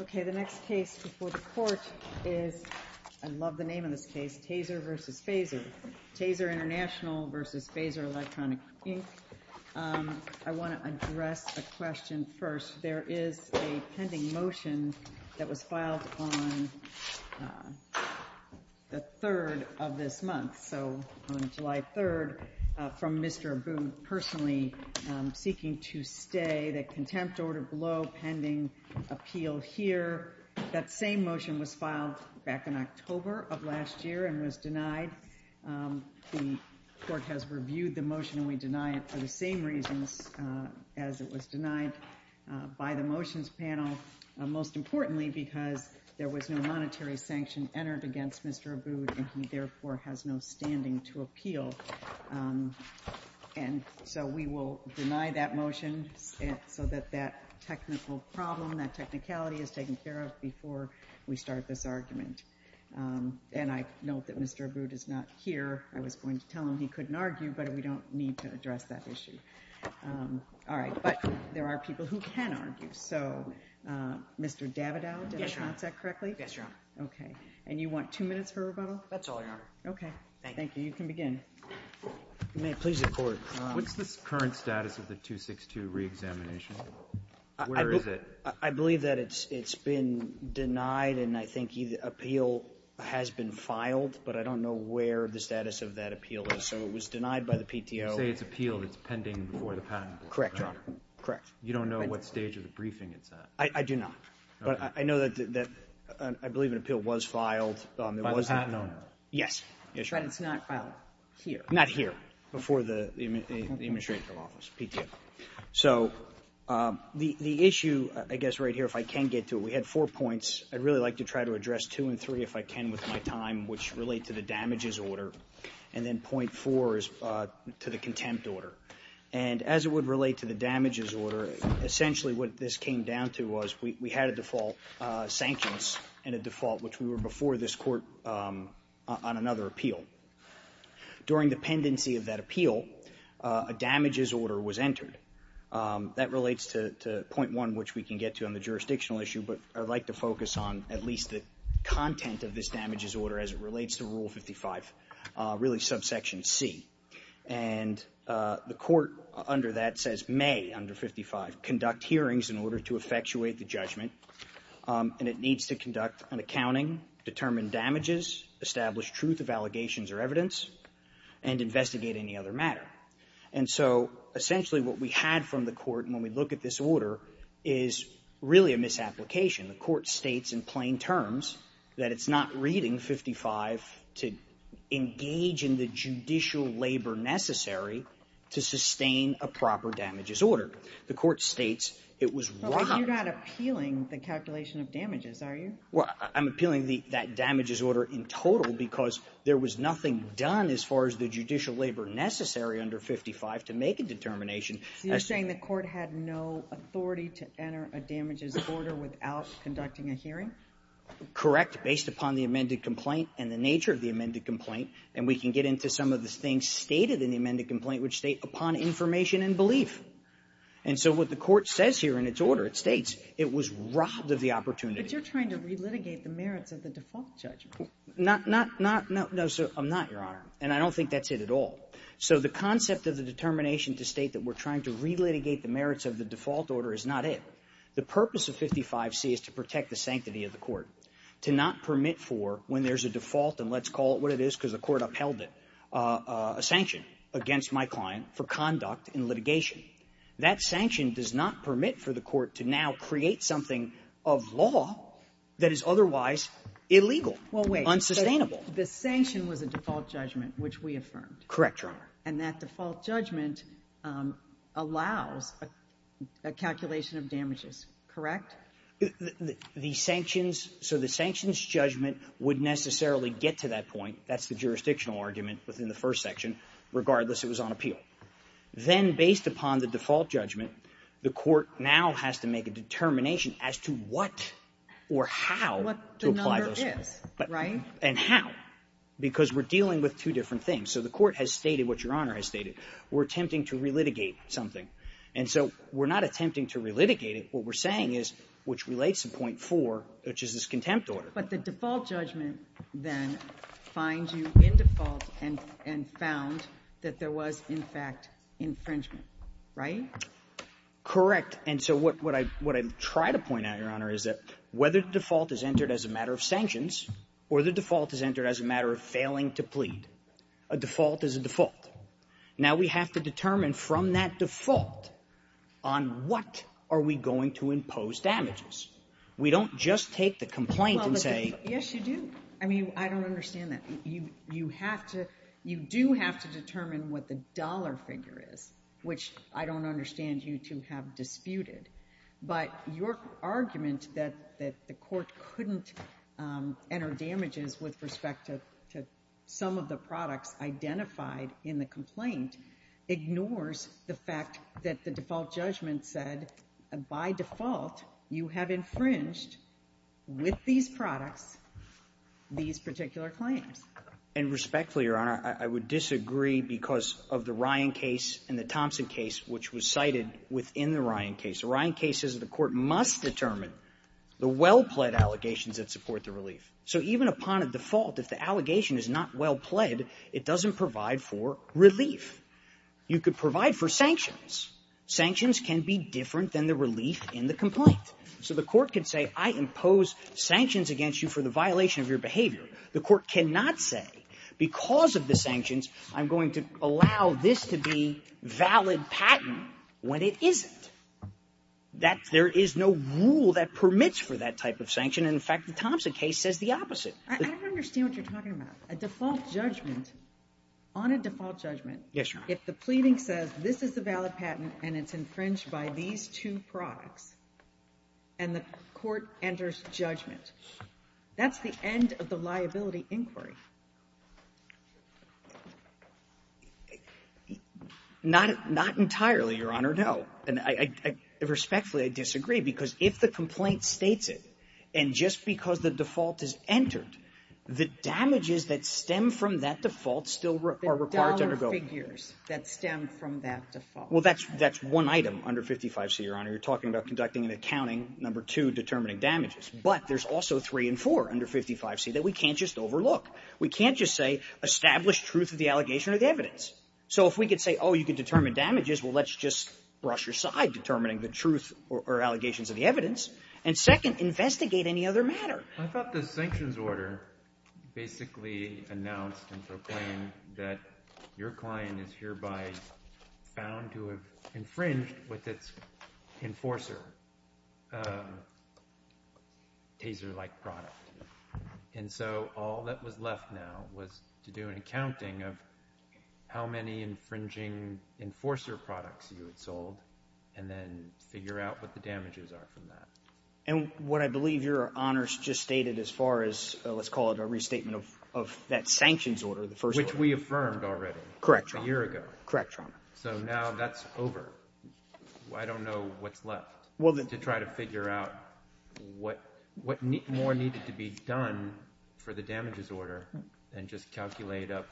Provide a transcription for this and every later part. Okay, the next case before the Court is, I love the name of this case, TASER v. Phazzer, TASER International v. Phazzer Electronics, Inc. I want to address a question first. There is a pending motion that was filed on the 3rd of this month, so on July 3rd from Mr. Abood, personally seeking to stay, the contempt order below, pending appeal here. That same motion was filed back in October of last year and was denied. The Court has reviewed the motion and we deny it for the same reasons as it was denied by the motions panel, most importantly because there was no monetary sanction entered against Mr. Abood and he therefore has no standing to appeal. And so we will deny that motion so that that technical problem, that technicality is taken care of before we start this argument. And I note that Mr. Abood is not here. I was going to tell him he couldn't argue, but we don't need to address that issue. All right. But there are people who can argue. So Mr. Davidoff, did I pronounce that correctly? Yes, Your Honor. Okay. And you want two minutes for rebuttal? That's all, Your Honor. Okay. Thank you. Thank you. You can begin. You may please record. What's the current status of the 262 reexamination? Where is it? I believe that it's been denied and I think appeal has been filed, but I don't know where the status of that appeal is, so it was denied by the PTO. You say it's appealed. It's pending before the Patent Board, correct? Correct, Your Honor. Correct. You don't know what stage of the briefing it's at? I do not. But I know that I believe an appeal was filed. By the Patent Owner? Yes. But it's not filed here? Not here. Before the Administrative Office, PTO. So the issue, I guess right here, if I can get to it, we had four points. I'd really like to try to address two and three if I can with my time, which relate to the damages order, and then point four is to the contempt order. And as it would relate to the damages order, essentially what this came down to was we had a default sanctions and a default, which we were before this court on another appeal. During the pendency of that appeal, a damages order was entered. That relates to point one, which we can get to on the jurisdictional issue, but I'd like to focus on at least the content of this damages order as it relates to Rule 55, really subsection C. And the court under that says may, under 55, conduct hearings in order to effectuate the judgment, and it needs to conduct an accounting, determine damages, establish truth of allegations or evidence, and investigate any other matter. And so essentially what we had from the court when we look at this order is really a misapplication. The court states in plain terms that it's not reading 55 to engage in the judicial labor necessary to sustain a proper damages order. The court states it was wrong. But you're not appealing the calculation of damages, are you? Well, I'm appealing that damages order in total because there was nothing done as far as the judicial labor necessary under 55 to make a determination. So you're saying the court had no authority to enter a damages order without conducting a hearing? Correct. Based upon the amended complaint and the nature of the amended complaint. And we can get into some of the things stated in the amended complaint, which state upon information and belief. And so what the court says here in its order, it states it was robbed of the opportunity. But you're trying to relitigate the merits of the default judgment. Not not not no, I'm not, Your Honor, and I don't think that's it at all. So the concept of the determination to state that we're trying to relitigate the merits of the default order is not it. The purpose of 55C is to protect the sanctity of the court, to not permit for when there's a default, and let's call it what it is because the court upheld it, a sanction against my client for conduct in litigation. That sanction does not permit for the court to now create something of law that is otherwise illegal, unsustainable. Well, wait. The sanction was a default judgment, which we affirmed. Correct, Your Honor. And that default judgment allows a calculation of damages, correct? The sanctions, so the sanctions judgment would necessarily get to that point. That's the jurisdictional argument within the first section, regardless it was on appeal. Then based upon the default judgment, the court now has to make a determination as to what or how to apply those things. What the number is, right? And how, because we're dealing with two different things. So the court has stated what Your Honor has stated. We're attempting to relitigate something. And so we're not attempting to relitigate it. What we're saying is, which relates to point 4, which is this contempt order. But the default judgment then finds you in default and found that there was, in fact, infringement, right? Correct. And so what I try to point out, Your Honor, is that whether the default is entered as a matter of sanctions or the default is entered as a matter of failing to plead, a default is a default. Now we have to determine from that default on what are we going to impose damages. We don't just take the complaint and say ---- Well, but yes, you do. I mean, I don't understand that. You have to you do have to determine what the dollar figure is, which I don't understand you to have disputed. But your argument that the court couldn't enter damages with respect to some of the products identified in the complaint ignores the fact that the default judgment said by default you have infringed with these products these particular claims. And respectfully, Your Honor, I would disagree because of the Ryan case and the Thompson case, which was cited within the Ryan case. The Ryan case says the court must determine the well-pled allegations that support the relief. So even upon a default, if the allegation is not well-pled, it doesn't provide for relief. You could provide for sanctions. Sanctions can be different than the relief in the complaint. So the court could say I impose sanctions against you for the violation of your behavior. The court cannot say because of the sanctions, I'm going to allow this to be valid patent when it isn't. That there is no rule that permits for that type of sanction. In fact, the Thompson case says the opposite. I don't understand what you're talking about. A default judgment on a default judgment. Yes, Your Honor. If the pleading says this is a valid patent and it's infringed by these two products and the court enters judgment, that's the end of the liability inquiry. Not entirely, Your Honor, no. And respectfully, I disagree because if the complaint states it and just because the default is entered, the damages that stem from that default still are required to undergo. Well, that's one item under 55C, Your Honor. You're talking about conducting an accounting, number two, determining damages. But there's also three and four under 55C that we can't just overlook. We can't just say establish truth of the allegation or the evidence. So if we could say, oh, you could determine damages, well, let's just brush aside determining the truth or allegations of the evidence and second, investigate any other matter. I thought the sanctions order basically announced and proclaimed that your client is hereby found to have infringed with its enforcer taser-like product. And so all that was left now was to do an accounting of how many infringing enforcer products you had sold and then figure out what the damages are from that. And what I believe Your Honor just stated as far as, let's call it a restatement of that sanctions order, the first one. Which we affirmed already. Correct, Your Honor. A year ago. Correct, Your Honor. So now that's over. I don't know what's left to try to figure out what more needed to be done for the damages order and just calculate up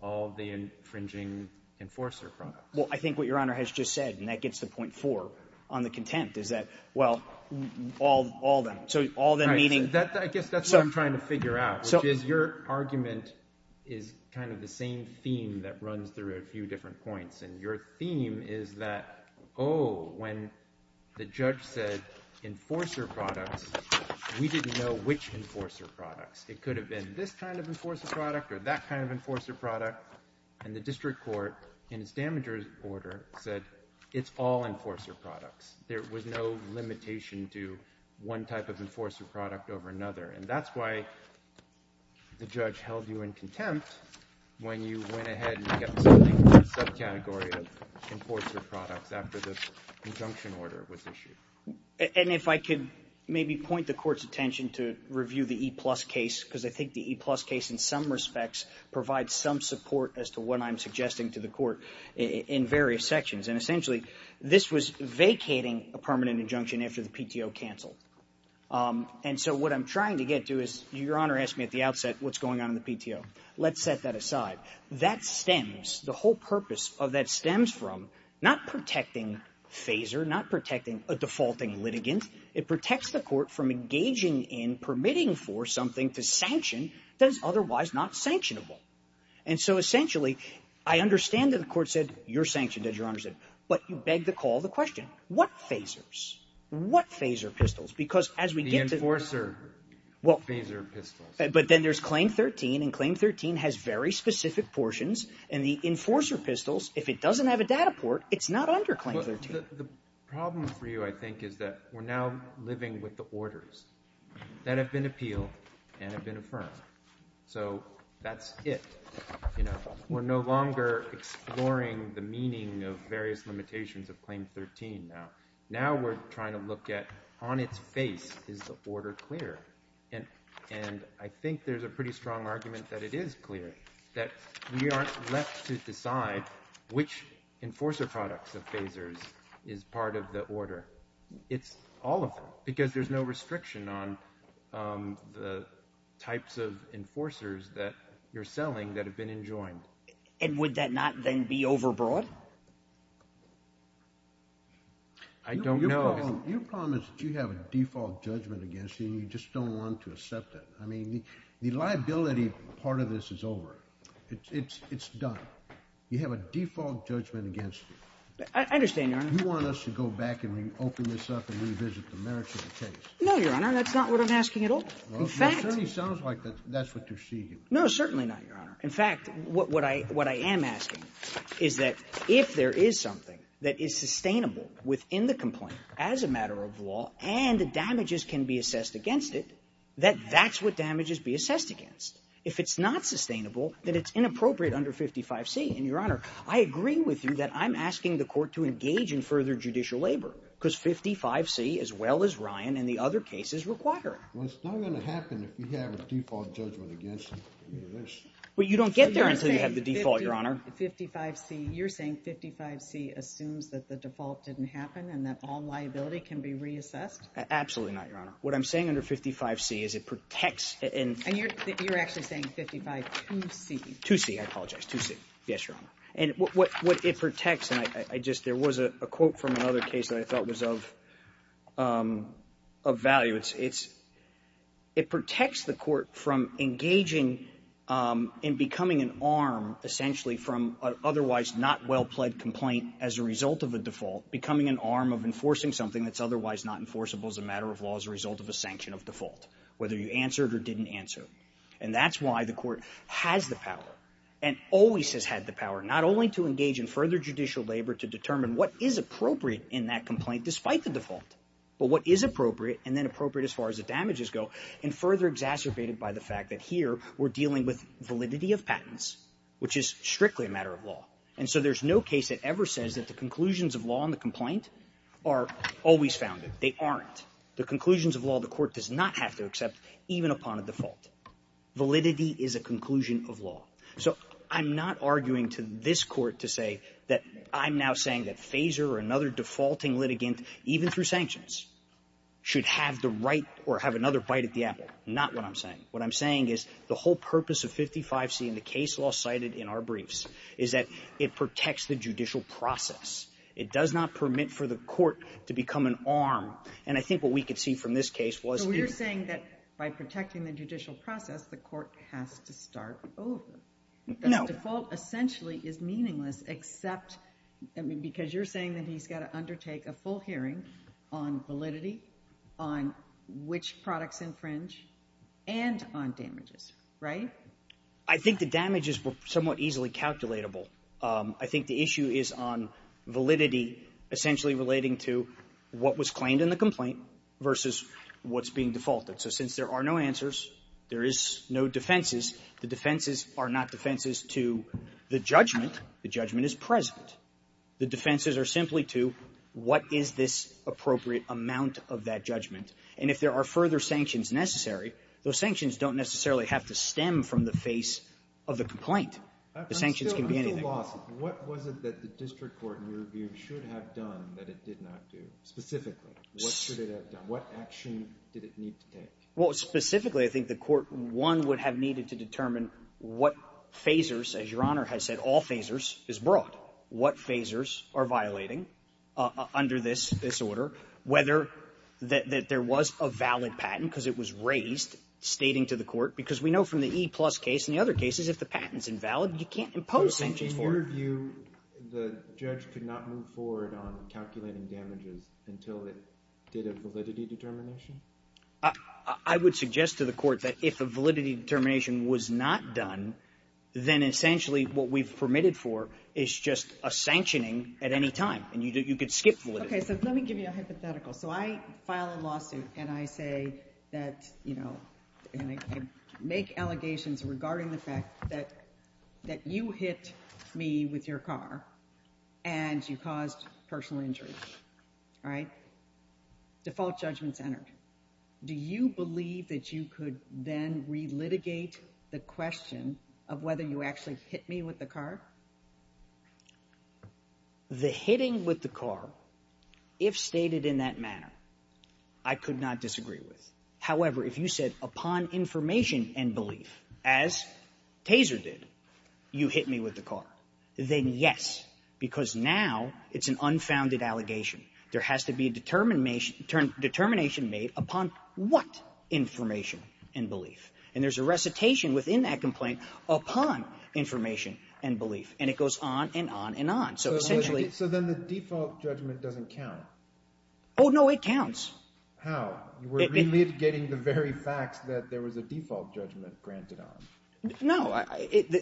all the infringing enforcer products. Well, I think what Your Honor has just said, and that gets to point four on the contempt, is that, well, all of them. So all of them, meaning. I guess that's what I'm trying to figure out. Which is your argument is kind of the same theme that runs through a few different points. And your theme is that, oh, when the judge said enforcer products, we didn't know which enforcer products. It could have been this kind of enforcer product or that kind of enforcer product. And the district court, in its damages order, said it's all enforcer products. There was no limitation to one type of enforcer product over another. And that's why the judge held you in contempt when you went ahead and kept something in the subcategory of enforcer products after the injunction order was issued. And if I could maybe point the court's attention to review the E-plus case, because I think the E-plus case, in some respects, provides some support as to what I'm suggesting to the court in various sections. And essentially, this was vacating a permanent injunction after the PTO canceled. And so what I'm trying to get to is, your Honor asked me at the outset what's going on in the PTO. Let's set that aside. That stems, the whole purpose of that stems from not protecting FASER, not protecting a defaulting litigant. It protects the court from engaging in permitting for something to sanction that is otherwise not sanctionable. And so essentially, I understand that the court said, you're sanctioned as your Honor said. But you beg the call of the question, what FASERs, what FASER pistols? Because as we get to the enforcer FASER pistols. But then there's Claim 13, and Claim 13 has very specific portions. And the enforcer pistols, if it doesn't have a data port, it's not under Claim 13. The problem for you, I think, is that we're now living with the orders that have been appealed and have been affirmed. So that's it. We're no longer exploring the meaning of various limitations of Claim 13 now. Now we're trying to look at, on its face, is the order clear? And I think there's a pretty strong argument that it is clear. That we aren't left to decide which enforcer products of FASERs is part of the order. It's all of them. Because there's no restriction on the types of enforcers that you're selling that have been enjoined. And would that not then be overbroad? I don't know. Your problem is that you have a default judgment against you, and you just don't want to accept it. I mean, the liability part of this is over. It's done. You have a default judgment against you. I understand, Your Honor. You want us to go back and reopen this up and revisit the merits of the case. No, Your Honor. That's not what I'm asking at all. In fact — It certainly sounds like that's what you're seeking. No, certainly not, Your Honor. In fact, what I am asking is that if there is something that is sustainable within the complaint as a matter of law, and the damages can be assessed against it, that that's what damages be assessed against. If it's not sustainable, then it's inappropriate under 55C. And, Your Honor, I agree with you that I'm asking the court to engage in further judicial labor, because 55C, as well as Ryan and the other cases, require it. Well, it's not going to happen if you have a default judgment against you. But you don't get there until you have the default, Your Honor. 55C — you're saying 55C assumes that the default didn't happen and that all liability can be reassessed? Absolutely not, Your Honor. What I'm saying under 55C is it protects — And you're actually saying 552C. 2C, I apologize. 2C. Yes, Your Honor. And what it protects — and I just — there was a quote from another case that I thought was of value. It's — it protects the court from engaging in becoming an arm, essentially, from otherwise not well-pled complaint as a result of a default, becoming an arm of enforcing something that's otherwise not enforceable as a matter of law as a result of a sanction of default, whether you answered or didn't answer. And that's why the court has the power and always has had the power not only to engage in further judicial labor to determine what is appropriate in that complaint, despite the default, but what is appropriate and then appropriate as far as the damages go, and further exacerbated by the fact that here we're dealing with validity of patents, which is strictly a matter of law. And so there's no case that ever says that the conclusions of law on the complaint are always founded. They aren't. The conclusions of law, the court does not have to accept even upon a default. Validity is a conclusion of law. or another defaulting litigant, even through sanctions, should have the right or have another bite at the apple. Not what I'm saying. What I'm saying is the whole purpose of 55C in the case law cited in our briefs is that it protects the judicial process. It does not permit for the court to become an arm. And I think what we could see from this case was — So you're saying that by protecting the judicial process, the court has to start over. No. Because default essentially is meaningless except — I mean, Because you're saying that he's got to undertake a full hearing on validity, on which products infringe, and on damages, right? I think the damages were somewhat easily calculatable. I think the issue is on validity essentially relating to what was claimed in the complaint versus what's being defaulted. So since there are no answers, there is no defenses. The defenses are not defenses to the judgment. The judgment is present. The defenses are simply to what is this appropriate amount of that judgment. And if there are further sanctions necessary, those sanctions don't necessarily have to stem from the face of the complaint. The sanctions can be anything. But still, on the lawsuit, what was it that the district court, in your view, should have done that it did not do, specifically? What should it have done? What action did it need to take? Well, specifically, I think the court, one, would have needed to determine what phasers, as Your Honor has said, all phasers, is brought. What phasers are violating under this order, whether that there was a valid patent, because it was raised, stating to the court, because we know from the E-Plus case and the other cases, if the patent's invalid, you can't impose sanctions for it. But in your view, the judge could not move forward on calculating damages until it did a validity determination? I would suggest to the court that if a validity determination was not done, then essentially, what we've permitted for is just a sanctioning at any time. And you could skip validity. Okay. So let me give you a hypothetical. So I file a lawsuit and I say that, you know, and I make allegations regarding the fact that you hit me with your car and you caused personal injury. All right? Default judgment's entered. Do you believe that you could then relitigate the question of whether you actually hit me with the car? The hitting with the car, if stated in that manner, I could not disagree with. However, if you said, upon information and belief, as Taser did, you hit me with the car, then yes, because now it's an unfounded allegation. There has to be a determination made upon what information and belief. And there's a recitation within that complaint upon information and belief. And it goes on and on and on. So essentially So then the default judgment doesn't count. Oh, no, it counts. How? You were relitigating the very facts that there was a default judgment granted on. No.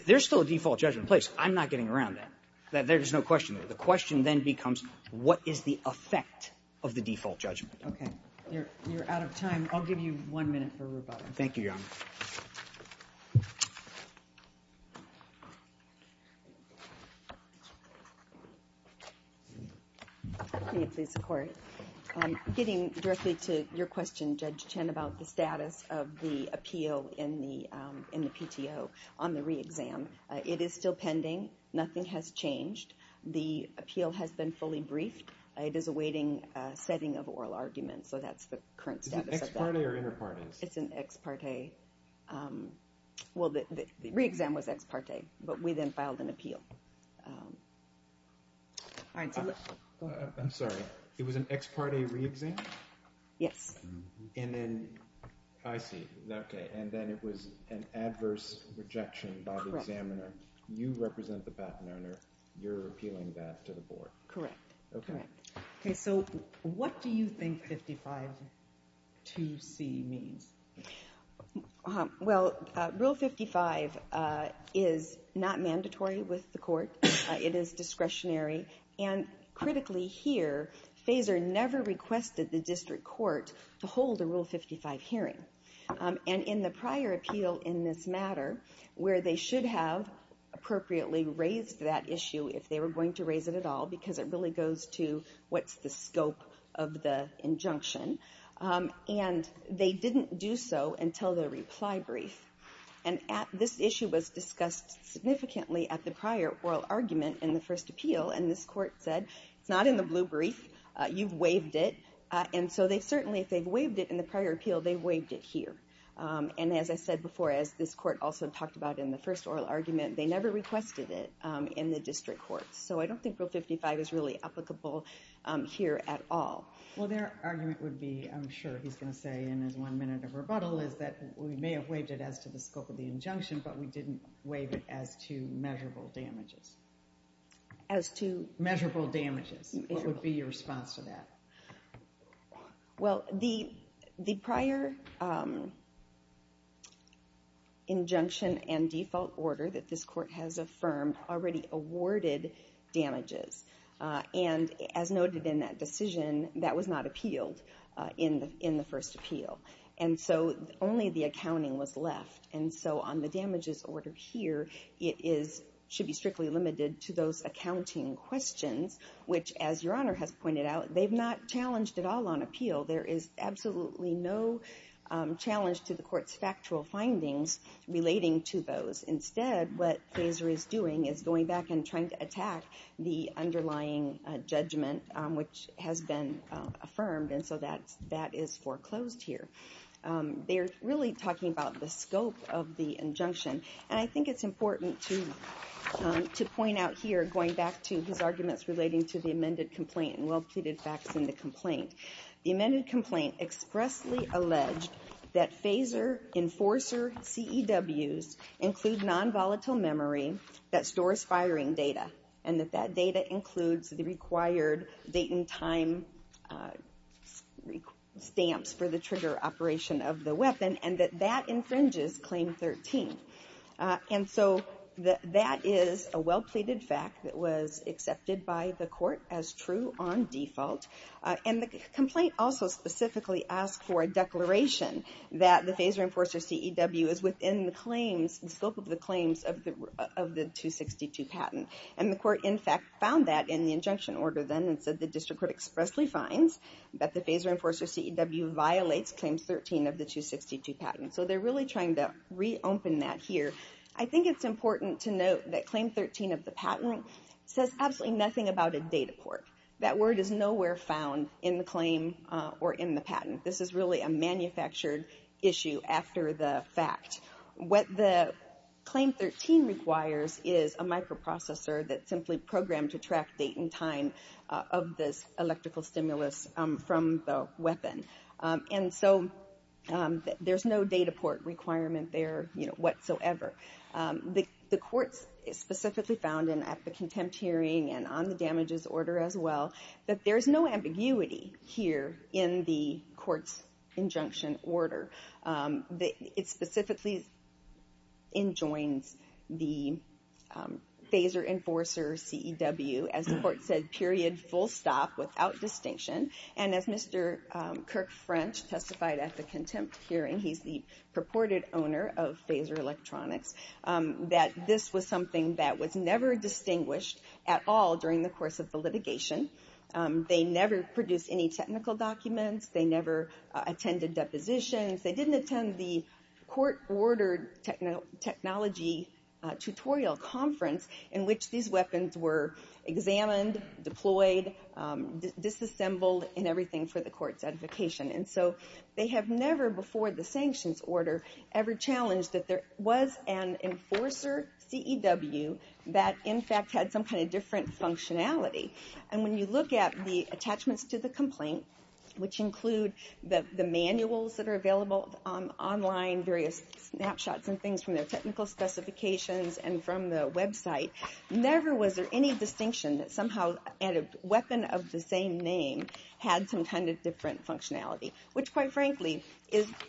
There's still a default judgment in place. I'm not getting around that. There's no question there. The question then becomes, what is the effect of the default judgment? Okay. You're out of time. I'll give you one minute for rebuttal. Thank you, Your Honor. Thank you. Getting directly to your question, Judge Chen, about the status of the appeal in the PTO on the re-exam. It is still pending. Nothing has changed. The appeal has been fully briefed. It is awaiting a setting of oral argument. So that's the current status of that. Is it ex parte or inter parte? It's an ex parte. Well, the re-exam was ex parte, but we then filed an appeal. I'm sorry. It was an ex parte re-exam? Yes. And then, I see. And then it was an adverse rejection by the examiner. You represent the patent owner. You're appealing that to the board. Correct. Correct. So what do you think 552C means? Well, Rule 55 is not mandatory with the court. It is discretionary. And critically here, FASER never requested the district court to hold a Rule 55 hearing. And in the prior appeal in this matter, where they should have appropriately raised that issue if they were going to raise it at all, because it really goes to what's the scope of the injunction. And they didn't do so until the reply brief. And this issue was discussed significantly at the prior oral argument in the first appeal. And this court said, it's not in the blue brief. You've waived it. And so they've certainly, if they've waived it in the prior appeal, they've waived it here. And as I said before, as this court also talked about in the first oral argument, they never requested it in the district court. So I don't think Rule 55 is really applicable here at all. Well, their argument would be, I'm sure he's going to say in his one minute of rebuttal, is that we may have waived it as to the scope of the injunction, but we didn't waive it as to measurable damages. As to? Measurable damages. What would be your response to that? Well, the prior injunction and default order that this court has affirmed already awarded damages. And as noted in that decision, that was not appealed in the first appeal. And so only the accounting was left. And so on the damages order here, it should be strictly limited to those accounting questions, which, as Your Honor has pointed out, they've not challenged at all on appeal. There is absolutely no challenge to the court's factual findings relating to those. Instead, what FASER is doing is going back and trying to attack the underlying judgment, which has been affirmed. And so that is foreclosed here. They're really talking about the scope of the injunction. And I think it's important to point out here, going back to his arguments relating to the amended complaint and well-pleaded facts in the complaint. The amended complaint expressly alleged that FASER enforcer CEWs include non-volatile memory that stores firing data, and that that data includes the required date and time stamps for the trigger operation of the weapon, and that that infringes Claim 13. And so that is a well-pleaded fact that was accepted by the court as true on default. And the complaint also specifically asked for a declaration that the FASER enforcer CEW is within the scope of the claims of the 262 patent. And the court, in fact, found that in the injunction order then, and said the district court expressly finds that the FASER enforcer CEW violates Claim 13 of the 262 patent. So they're really trying to reopen that here. I think it's important to note that Claim 13 of the patent says absolutely nothing about a data port. That word is nowhere found in the claim or in the patent. This is really a manufactured issue after the fact. What the Claim 13 requires is a microprocessor that's simply programmed to track date and time of this electrical stimulus from the weapon. And so there's no data port requirement there whatsoever. The court specifically found, and at the contempt hearing and on the damages order as well, that there is no ambiguity here in the court's injunction order. It specifically enjoins the FASER enforcer CEW, as the court said, period, full stop, without distinction. And as Mr. Kirk French testified at the contempt hearing, he's the purported owner of FASER Electronics, that this was something that was never distinguished at all during the course of the litigation. They never produced any technical documents. They never attended depositions. They didn't attend the court-ordered technology tutorial conference in which these weapons were examined, deployed, disassembled, and everything for the court's edification. And so they have never, before the sanctions order, ever challenged that there was an enforcer CEW that, in fact, had some kind of different functionality. And when you look at the attachments to the complaint, which include the manuals that are available online, various snapshots and things from their technical specifications and from the website, never was there any distinction that somehow a weapon of the same name had some kind of different functionality, which, quite frankly,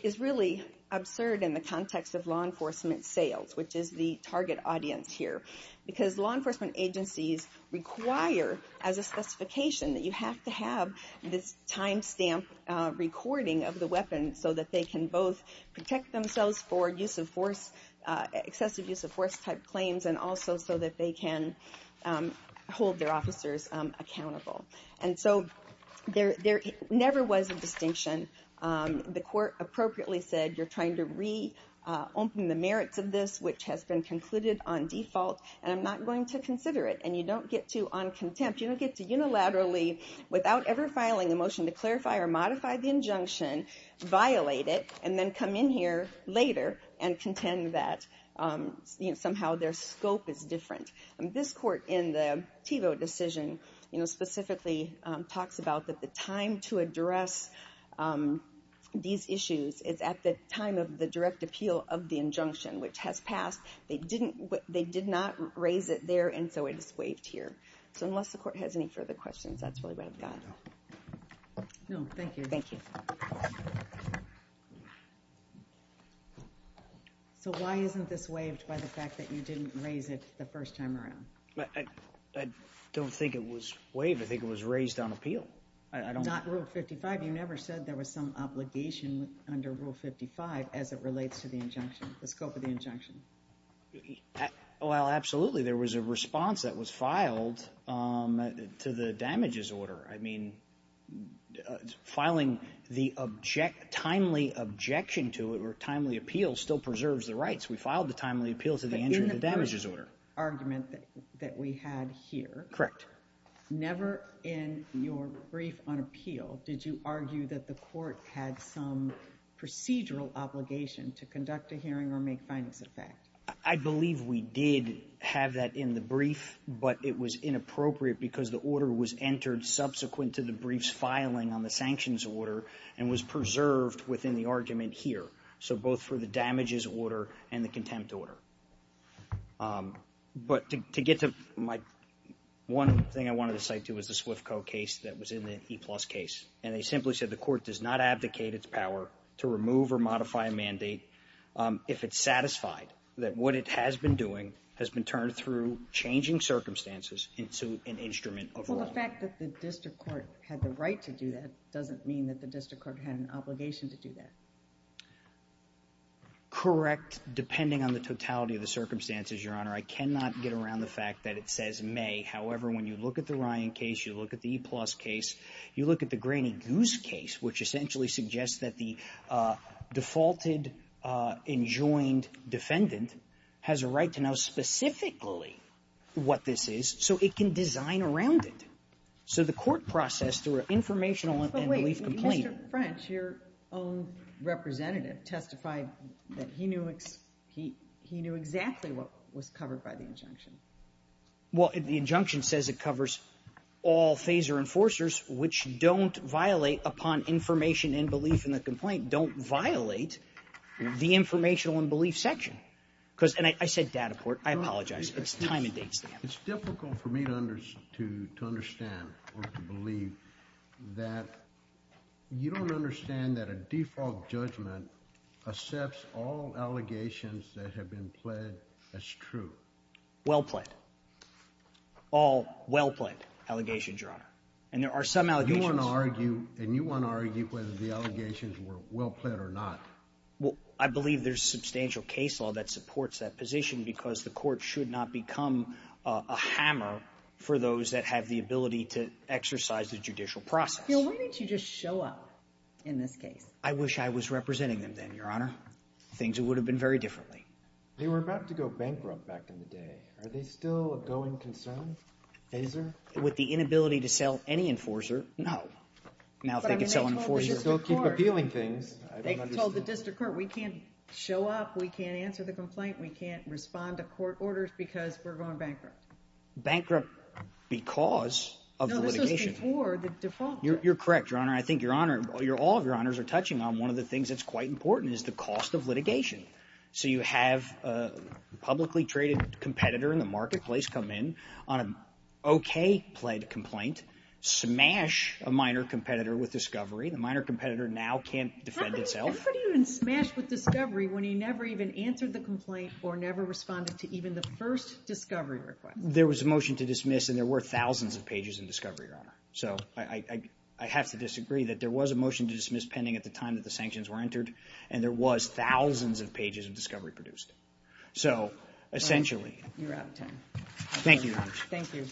is really absurd in the context of law enforcement sales, which is the target audience here. Because law enforcement agencies require, as a specification, that you have to have this timestamp recording of the weapon so that they can both protect themselves for excessive use of force-type claims and also so that they can hold their officers accountable. And so there never was a distinction. The court appropriately said, you're trying to reopen the merits of this, which has been concluded on default, and I'm not going to consider it. And you don't get to, on contempt, you don't get to unilaterally, without ever filing a motion to clarify or modify the injunction, violate it, and then come in here later and contend that somehow their scope is different. And this court, in the Tevo decision, you know, specifically talks about that the time to address these issues is at the time of the direct appeal of the injunction, which has passed. They did not raise it there, and so it is waived here. So unless the court has any further questions, that's really what I've got. No, thank you. Thank you. So why isn't this waived by the fact that you didn't raise it the first time around? I don't think it was waived. I think it was raised on appeal. Not Rule 55. You never said there was some obligation under Rule 55 as it relates to the injunction. The scope of the injunction. Well, absolutely. There was a response that was filed to the damages order. I mean, filing the timely objection to it or timely appeal still preserves the rights. We filed the timely appeal to the entry of the damages order. Argument that we had here. Correct. Never in your brief on appeal did you argue that the court had some procedural obligation to conduct a hearing or make findings of that. I believe we did have that in the brief, but it was inappropriate because the order was entered subsequent to the brief's filing on the sanctions order and was preserved within the argument here. So both for the damages order and the contempt order. But to get to my, one thing I wanted to cite too is the SWIFCO case that was in the E-plus case. And they simply said the court does not abdicate its power to remove or modify a mandate if it's satisfied that what it has been doing has been turned through changing circumstances into an instrument of wrong. Well, the fact that the district court had the right to do that doesn't mean that the district court had an obligation to do that. Correct, depending on the totality of the circumstances, Your Honor. I cannot get around the fact that it says may. However, when you look at the Ryan case, you look at the E-plus case, you look at the Graney Goose case, which essentially suggests that the defaulted enjoined defendant has a right to know specifically what this is so it can design around it. So the court processed through an informational and relief complaint. But wait, Mr. French, your own representative testified that he knew exactly what was covered by the injunction. Well, the injunction says it covers all phaser enforcers which don't violate upon information and belief in the complaint, don't violate the informational and belief section. Because, and I said data court, I apologize. It's time and date. It's difficult for me to understand or to believe that you don't understand that a default judgment accepts all allegations Well pled. All well pled allegations, Your Honor. And there are some allegations. You wanna argue, and you wanna argue whether the allegations were well pled or not. Well, I believe there's substantial case law that supports that position because the court should not become a hammer for those that have the ability to exercise the judicial process. Phil, why don't you just show up in this case? I wish I was representing them then, Your Honor. Things would have been very differently. They were about to go bankrupt back in the day. Are they still a going concern, phaser? With the inability to sell any enforcer, no. Now, if they could sell an enforcer. But I mean, they told the district court. They still keep appealing things. They told the district court, we can't show up. We can't answer the complaint. We can't respond to court orders because we're going bankrupt. Bankrupt because of litigation. No, this was before the default. You're correct, Your Honor. I think Your Honor, all of Your Honors are touching on one of the things that's quite important is the cost of litigation. So you have a publicly traded competitor in the marketplace come in on an okay pled complaint, smash a minor competitor with discovery. The minor competitor now can't defend itself. How could he even smash with discovery when he never even answered the complaint or never responded to even the first discovery request? There was a motion to dismiss and there were thousands of pages in discovery, Your Honor. So I have to disagree that there was a motion to dismiss pending at the time that the sanctions were entered and there was thousands of pages of discovery produced. So, essentially. You're out of time. Thank you, Your Honor. Thank you.